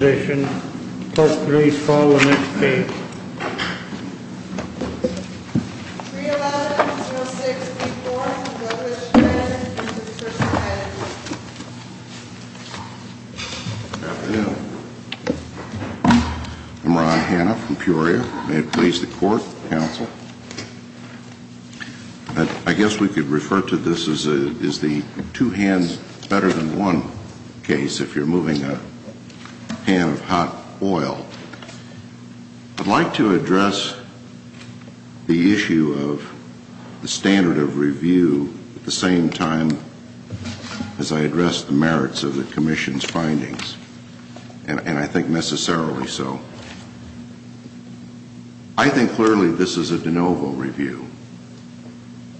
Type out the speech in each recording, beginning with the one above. I guess we could refer to this as the two hands better than one case if you're moving a pan of hot oil. I'd like to address the issue of the standard of review at the same time as I address the merits of the Commission's findings, and I think necessarily so. I think clearly this is a de novo review.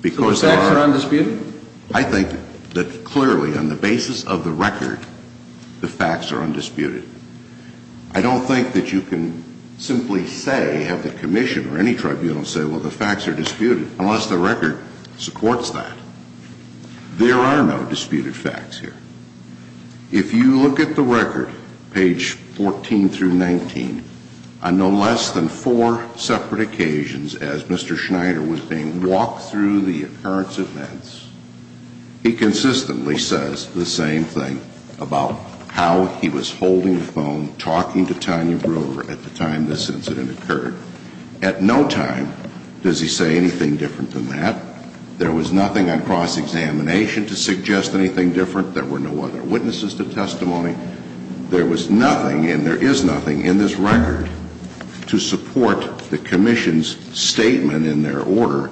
Because there are... The facts are on dispute? I think that clearly on the basis of the record, the facts are undisputed. I don't think that you can simply say, have the Commission or any tribunal say, well, the facts are disputed, unless the record supports that. There are no disputed facts here. If you look at the record, page 14 through 19, on no less than four separate occasions as Mr. Schneider was reporting, walk through the occurrence events, he consistently says the same thing about how he was holding the phone, talking to Tanya Brewer at the time this incident occurred. At no time does he say anything different than that. There was nothing on cross-examination to suggest anything different. There were no other witnesses to testimony. There was nothing, and there is nothing, in this record to support the Commission's statement in their order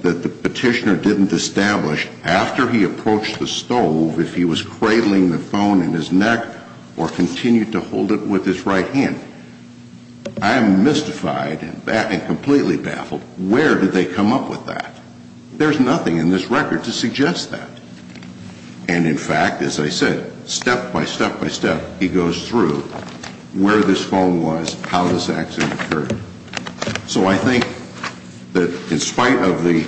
that the petitioner didn't establish after he approached the stove if he was cradling the phone in his neck or continued to hold it with his right hand. I am mystified and completely baffled. Where did they come up with that? There is nothing in this record to suggest that. And in fact, as I said, step by step by step, he goes through where this accident occurred. So I think that in spite of the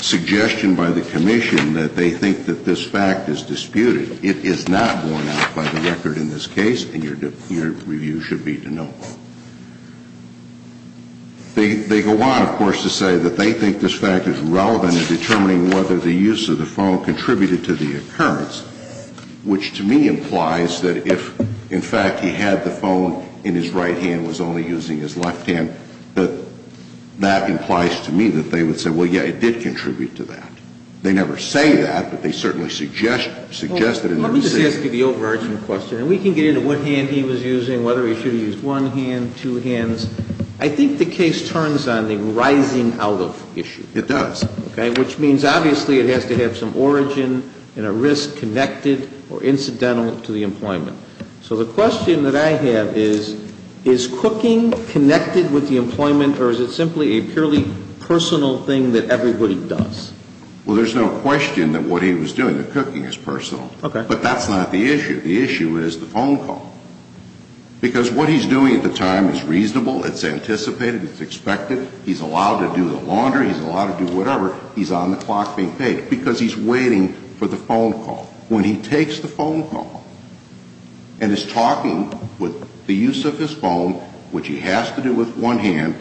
suggestion by the Commission that they think that this fact is disputed, it is not borne out by the record in this case, and your review should be to no avail. They go on, of course, to say that they think this fact is relevant in determining whether the use of the phone contributed to the occurrence, which to me implies that if, in fact, he had the phone in his right hand and was only using his left hand, that that implies to me that they would say, well, yes, it did contribute to that. They never say that, but they certainly suggest that in their view. Let me just ask you the overarching question. And we can get into what hand he was using, whether he should have used one hand, two hands. I think the case turns on the rising out of issue. It does. Which means, obviously, it has to have some origin and a risk connected or incidental to the employment. So the question that I have is, is cooking connected with the employment or is it simply a purely personal thing that everybody does? Well, there's no question that what he was doing, the cooking, is personal. But that's not the issue. The issue is the phone call. Because what he's doing at the time is reasonable, it's anticipated, it's expected. He's allowed to do the laundry, he's allowed to do whatever. He's on the clock being paid because he's waiting for the phone call. When he takes the phone call and is talking with the use of his phone, which he has to do with one hand,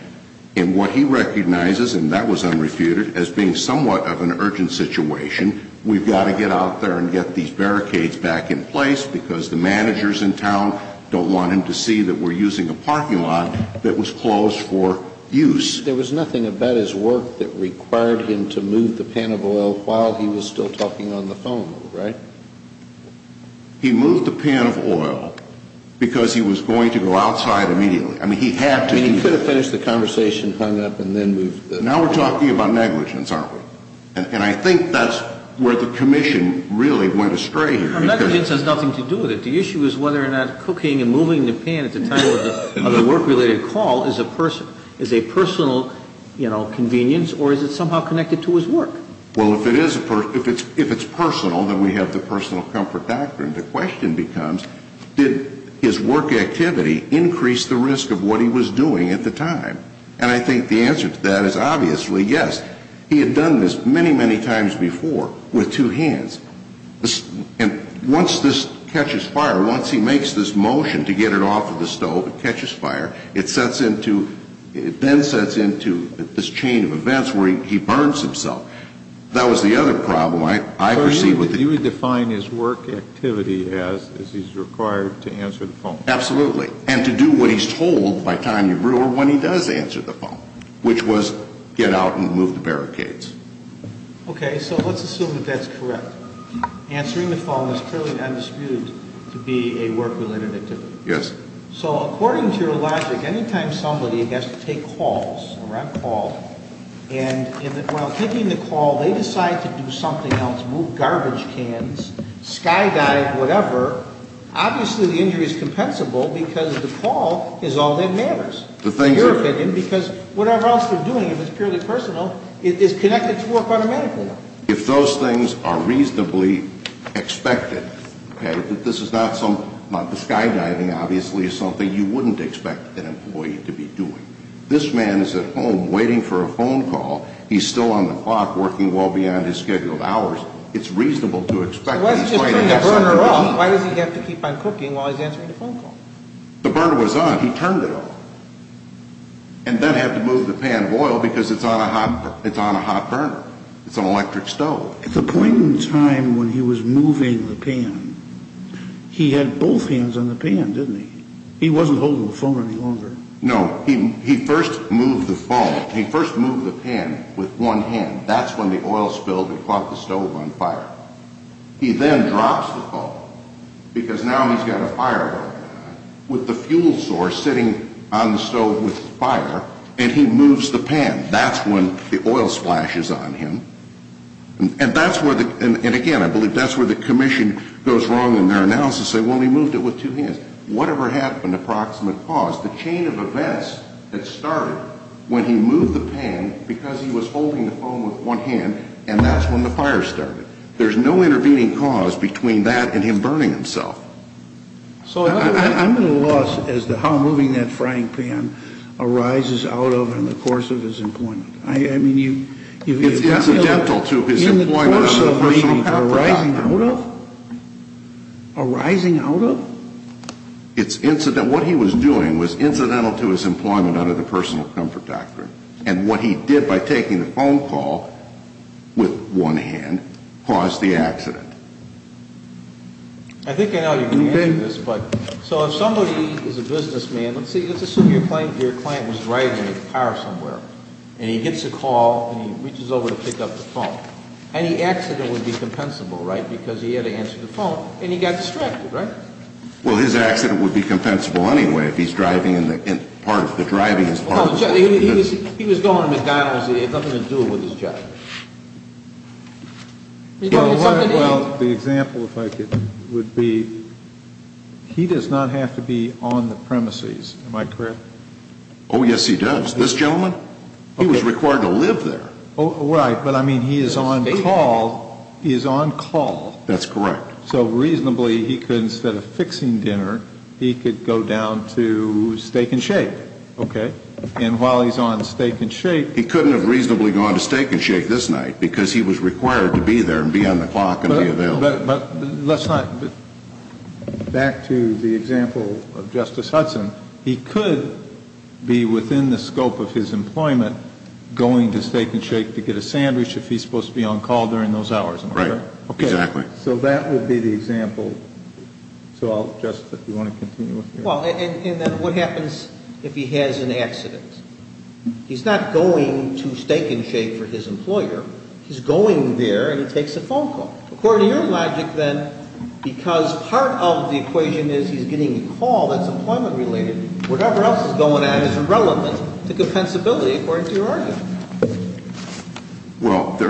and what he recognizes, and that was unrefuted, as being somewhat of an urgent situation, we've got to get out there and get these barricades back in place because the managers in town don't want him to see that we're using a parking lot that was closed for use. There was nothing about his work that required him to move the pan of oil while he was still talking on the phone, right? He moved the pan of oil because he was going to go outside immediately. I mean, he had to do that. I mean, he could have finished the conversation, hung up, and then moved the phone. Now we're talking about negligence, aren't we? And I think that's where the Commission really went astray here. Negligence has nothing to do with it. The issue is whether or not cooking and moving the pan at the time of the work-related call is a personal, you know, convenience, or is it somehow connected to his work? Well, if it is personal, then we have the personal comfort doctrine. The question becomes, did his work activity increase the risk of what he was doing at the time? And I think the answer to that is obviously yes. He had done this many, many times before with two pans. And once this catches fire, once he makes this motion to get it off of the stove, it catches fire, it sets into, it then sets into this chain of events where he burns himself. That was the other problem I perceive with it. So you would define his work activity as he's required to answer the phone? Absolutely. And to do what he's told by time you brew or when he does answer the phone, which was get out and move the barricades. Okay, so let's assume that that's correct. Answering the phone is purely undisputed to be a work-related activity. Yes. So according to your logic, any time somebody has to take calls, a ramp call, and while taking the call, they decide to do something else, move garbage cans, skydive, whatever, obviously the injury is compensable because the call is all that matters. The things that... Because whatever else they're doing, if it's purely personal, it is connected to work automatically. If those things are reasonably expected, okay, this is not some, the skydiving obviously is something you wouldn't expect an employee to be doing. This man is at home waiting for a phone call. He's still on the clock working well beyond his scheduled hours. It's reasonable to expect... So why does he just turn the burner off? Why does he have to keep on cooking while he's answering the phone call? The burner was on. He turned it off. And then had to move the pan of oil because it's on a hot burner. It's an electric stove. At the point in time when he was moving the pan, he had both hands on the pan, didn't he? He wasn't holding the phone any longer. No. He first moved the phone. He first moved the pan with one hand. That's when the oil spilled and caught the stove on fire. He then drops the phone because now he's got a fire with the fuel source sitting on the stove with fire, and he moves the pan. That's when the oil splashes on him. And that's where the, and again, I believe that's where the commission goes wrong in their analysis. They say, well, he moved it with two hands. Whatever happened, approximate cause, the chain of events that started when he moved the pan because he was holding the phone with one hand, and that's when the fire started. There's no intervening cause between that and him burning himself. So I'm at a loss as to how moving that frying pan arises out of and in the course of his employment. I mean, it's incidental to his employment under the Personal Comfort Doctrine. In the course of leaving, arising out of? Arising out of? It's incidental. What he was doing was incidental to his employment under the Personal Comfort Doctrine. And what he did by taking the phone call with one hand caused the accident. I think I know you can answer this, but, so if somebody is a businessman, let's see, let's assume your client was driving a car somewhere, and he gets a call, and he reaches over to pick up the phone. Any accident would be compensable, right, because he had to answer the phone, and he got distracted, right? Well, his accident would be compensable anyway if he's driving in part, driving his car. He was going to McDonald's. He had nothing to do with his job. Well, the example, if I could, would be, he does not have to be on the premises. Am I correct? Oh, yes, he does. This gentleman? He was required to live there. Oh, right, but I mean, he is on call. He is on call. That's correct. So reasonably, he could, instead of fixing dinner, he could go down to Steak and Shake, okay? And while he's on Steak and Shake he couldn't have reasonably gone to Steak and Shake this night because he was required to be there and be on the clock and be available. But, let's not, back to the example of Justice Hudson, he could be within the scope of his employment going to Steak and Shake to get a sandwich if he's supposed to be on call during those hours, am I correct? Right, exactly. Okay, so that would be the example. So I'll just, if you want to continue with me. Well, and then what happens if he has an accident? He's not going to Steak and Shake for his employer. He's going there and he takes a phone call. According to your logic, then, because part of the equation is he's getting a call that's employment related, whatever else is going on is irrelevant to compensability according to your argument. Well, there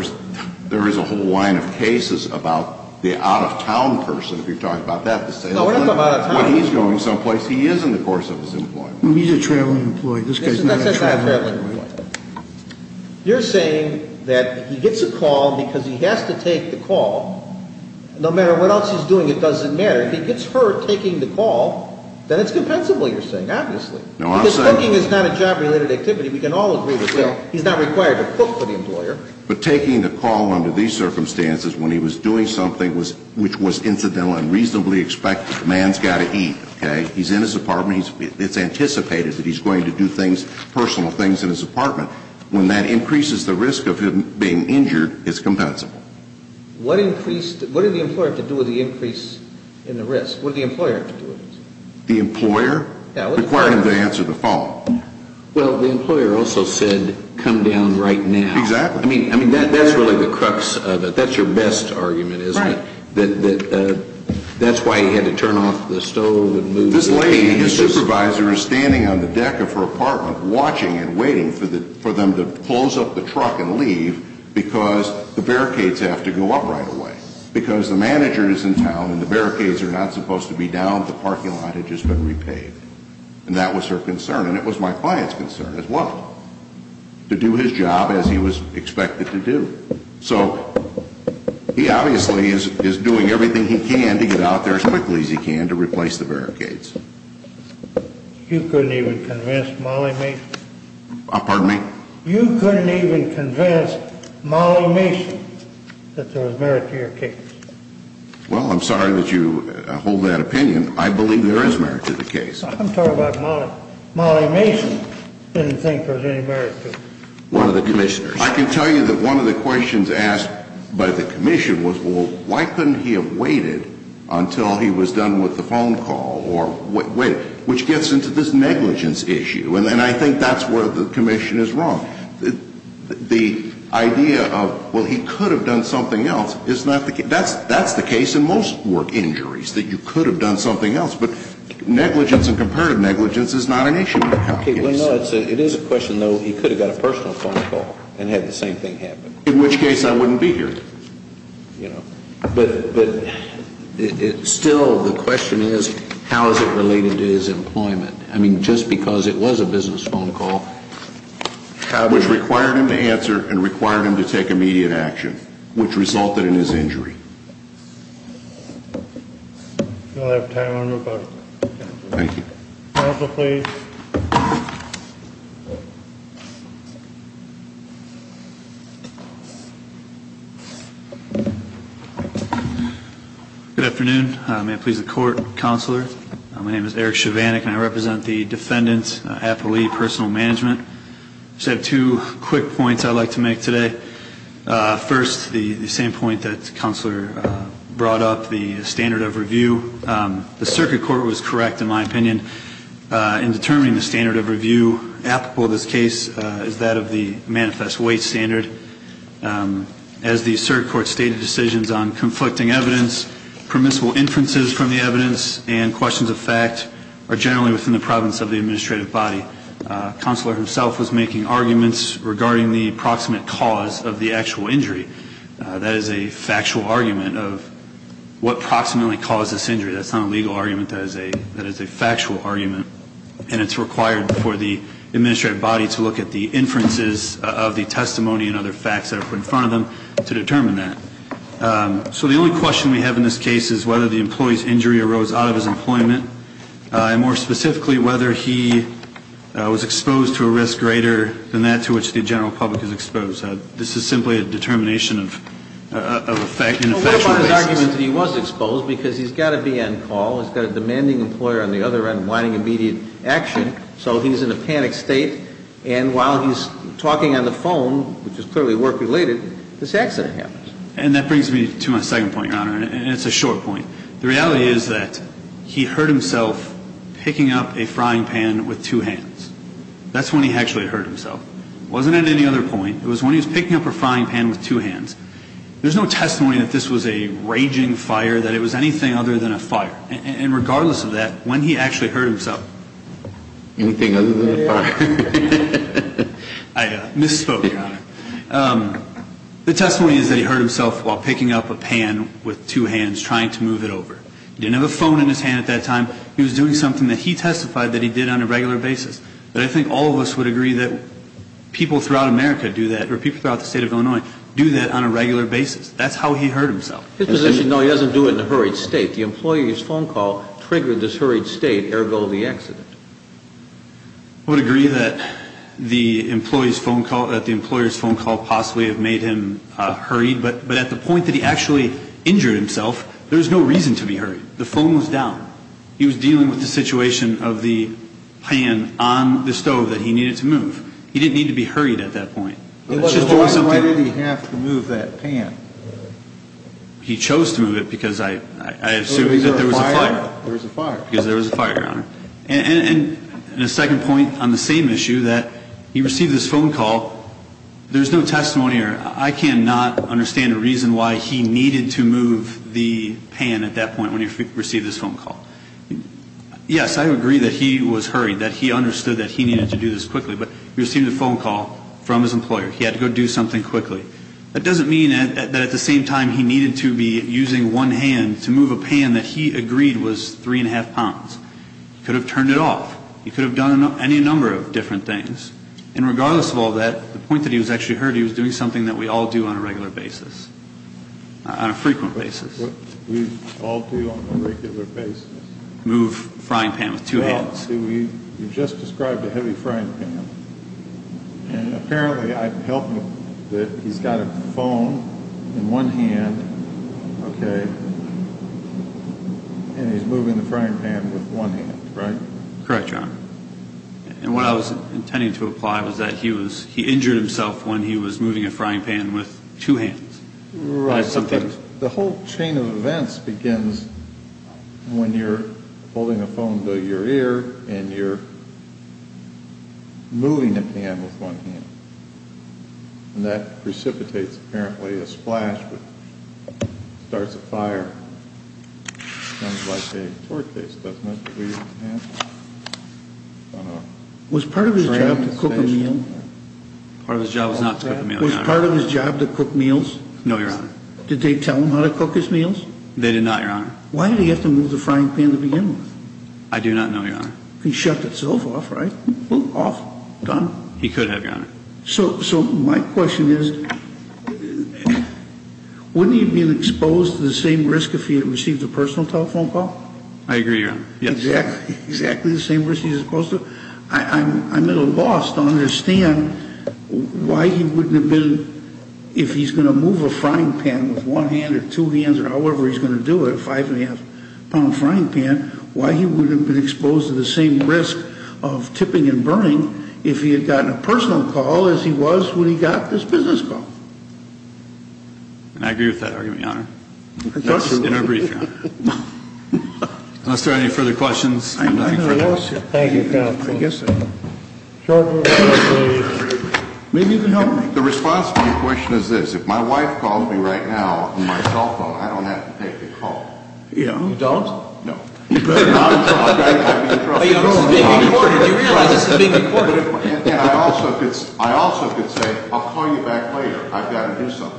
is a whole line of cases about the out-of-town person, if you're talking about that. No, we're not talking about out-of-town. When he's going someplace, he is in the course of his employment. He's a traveling employee. This guy's not a traveling employee. You're saying that he gets a call because he has to take the call. No matter what else he's doing, it doesn't matter. If he gets hurt taking the call, then it's compensable, you're saying, obviously. Because cooking is not a job-related activity. We can all agree with that. He's not required to cook for the employer. But taking the call under these circumstances when he was doing something which was incidental and reasonably expected, the man's got to eat, okay? He's in his apartment. It's anticipated that he's going to do things, personal things in his apartment. When that increases the risk of him being injured, it's compensable. What increased the – what did the employer have to do with the increase in the risk? What did the employer have to do with it? The employer? Yeah. Required him to answer the phone. Well, the employer also said, come down right now. Exactly. I mean, that's really the crux of it. That's your best argument, isn't it? Right. That's why he had to turn off the stove and move – This lady, his supervisor, is standing on the deck of her apartment, watching and waiting for them to close up the truck and leave because the barricades have to go up right away. Because the manager is in town and the barricades are not supposed to be down. The parking lot had just been repaved. And that was her concern, and it was my client's concern as well, to do his job as he was expected to do. So he obviously is doing everything he can to get out there as quickly as he can to replace the barricades. You couldn't even convince Molly Mason? Pardon me? You couldn't even convince Molly Mason that there was merit to your case? Well, I'm sorry that you hold that opinion. I believe there is merit to the case. I'm talking about Molly. Molly Mason didn't think there was any merit to it. One of the commissioners. I can tell you that one of the questions asked by the commission was, well, why couldn't he have waited until he was done with the phone call, which gets into this negligence issue. And I think that's where the commission is wrong. The idea of, well, he could have done something else, that's the case in most work injuries, that you could have done something else. But negligence and comparative negligence is not an issue. It is a question, though, he could have got a personal phone call and had the same thing happen. In which case I wouldn't be here. But still the question is, how is it related to his employment? I mean, just because it was a business phone call. Which required him to answer and required him to take immediate action, which resulted in his injury. We don't have time. Thank you. Counsel, please. Good afternoon. May it please the Court, Counselor. My name is Eric Chivanek, and I represent the Defendant Appellee Personal Management. I just have two quick points I'd like to make today. First, the same point that Counselor brought up, the standard of review. The Circuit Court was correct, in my opinion, in determining the standard of review. Applicable to this case is that of the manifest weight standard. As the Circuit Court stated, decisions on conflicting evidence, permissible inferences from the evidence, and questions of fact are generally within the province of the administrative body. Counselor himself was making arguments regarding the approximate cause of the actual injury. That is a factual argument of what approximately caused this injury. That's not a legal argument. That is a factual argument, and it's required for the administrative body to look at the inferences of the testimony and other facts that are put in front of them to determine that. So the only question we have in this case is whether the employee's injury arose out of his employment, and more specifically, whether he was exposed to a risk greater than that to which the general public is exposed. This is simply a determination of a factual basis. But what about his argument that he was exposed because he's got to be on call, he's got a demanding employer on the other end wanting immediate action, so he's in a panicked state, and while he's talking on the phone, which is clearly work-related, this accident happens. And that brings me to my second point, Your Honor, and it's a short point. The reality is that he hurt himself picking up a frying pan with two hands. That's when he actually hurt himself. It wasn't at any other point. It was when he was picking up a frying pan with two hands. There's no testimony that this was a raging fire, that it was anything other than a fire. And regardless of that, when he actually hurt himself. Anything other than a fire. I misspoke, Your Honor. The testimony is that he hurt himself while picking up a pan with two hands, trying to move it over. He didn't have a phone in his hand at that time. He was doing something that he testified that he did on a regular basis. But I think all of us would agree that people throughout America do that, or people throughout the state of Illinois, do that on a regular basis. That's how he hurt himself. His position, though, he doesn't do it in a hurried state. The employee's phone call triggered this hurried state, ergo the accident. I would agree that the employee's phone call, that the employer's phone call possibly have made him hurried, but at the point that he actually injured himself, there was no reason to be hurried. The phone was down. He was dealing with the situation of the pan on the stove that he needed to move. He didn't need to be hurried at that point. Why did he have to move that pan? He chose to move it because I assumed that there was a fire. There was a fire. Because there was a fire, Your Honor. And a second point on the same issue, that he received this phone call. There's no testimony or I cannot understand a reason why he needed to move the pan at that point when he received this phone call. Yes, I agree that he was hurried, that he understood that he needed to do this quickly. But he received a phone call from his employer. He had to go do something quickly. That doesn't mean that at the same time he needed to be using one hand to move a pan that he agreed was three and a half pounds. He could have turned it off. He could have done any number of different things. And regardless of all that, the point that he was actually hurt, he was doing something that we all do on a regular basis, on a frequent basis. We all do on a regular basis. Move a frying pan with two hands. Well, you just described a heavy frying pan. And apparently I've helped him that he's got a phone in one hand, okay, and he's moving the frying pan with one hand, right? Correct, Your Honor. And what I was intending to imply was that he injured himself when he was moving a frying pan with two hands. The whole chain of events begins when you're holding a phone to your ear and you're moving a pan with one hand. And that precipitates apparently a splash that starts a fire. Sounds like a tour case, doesn't it? Was part of his job to cook a meal? Part of his job was not to cook a meal, Your Honor. Was part of his job to cook meals? No, Your Honor. Did they tell him how to cook his meals? They did not, Your Honor. Why did he have to move the frying pan to begin with? I do not know, Your Honor. He shut himself off, right? Boom, off, done. He could have, Your Honor. So my question is, wouldn't he have been exposed to the same risk if he had received a personal telephone call? I agree, Your Honor. Exactly the same risk he's supposed to. I'm at a loss to understand why he wouldn't have been, if he's going to move a frying pan with one hand or two hands or however he's going to do it, a five-and-a-half-pound frying pan, why he wouldn't have been exposed to the same risk of tipping and burning if he had gotten a personal call as he was when he got this business call. And I agree with that argument, Your Honor. In our brief, Your Honor. Unless there are any further questions. I have nothing further. Thank you, counsel. Maybe you can help me. The response to your question is this. If my wife calls me right now on my cell phone, I don't have to take the call. You don't? No. You realize this is being recorded. I also could say, I'll call you back later. I've got to do something.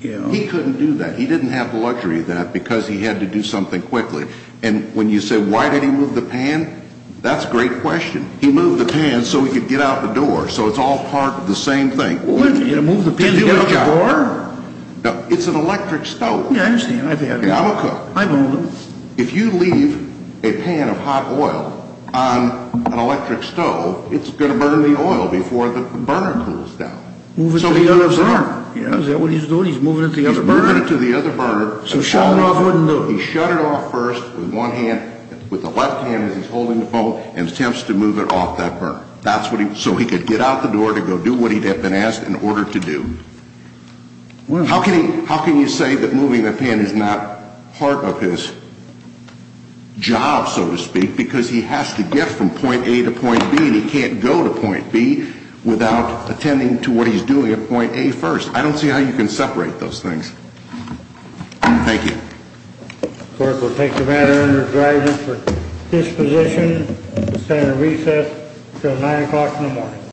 He couldn't do that. He didn't have the luxury of that because he had to do something quickly. And when you say why did he move the pan, that's a great question. He moved the pan so he could get out the door, so it's all part of the same thing. Move the pan to get out the door? It's an electric stove. Yeah, I understand. I'm a cook. I move them. If you leave a pan of hot oil on an electric stove, it's going to burn the oil before the burner cools down. Move it to the other burner. Is that what he's doing? He's moving it to the other burner. So shut it off first with one hand, with the left hand as he's holding the phone and attempts to move it off that burner. So he could get out the door to go do what he had been asked in order to do. How can you say that moving that pan is not part of his job, so to speak, because he has to get from point A to point B, and he can't go to point B without attending to what he's doing at point A first. I don't see how you can separate those things. Thank you. Clerk, we'll take the matter under driver for disposition. We'll stand at recess until 9 o'clock in the morning.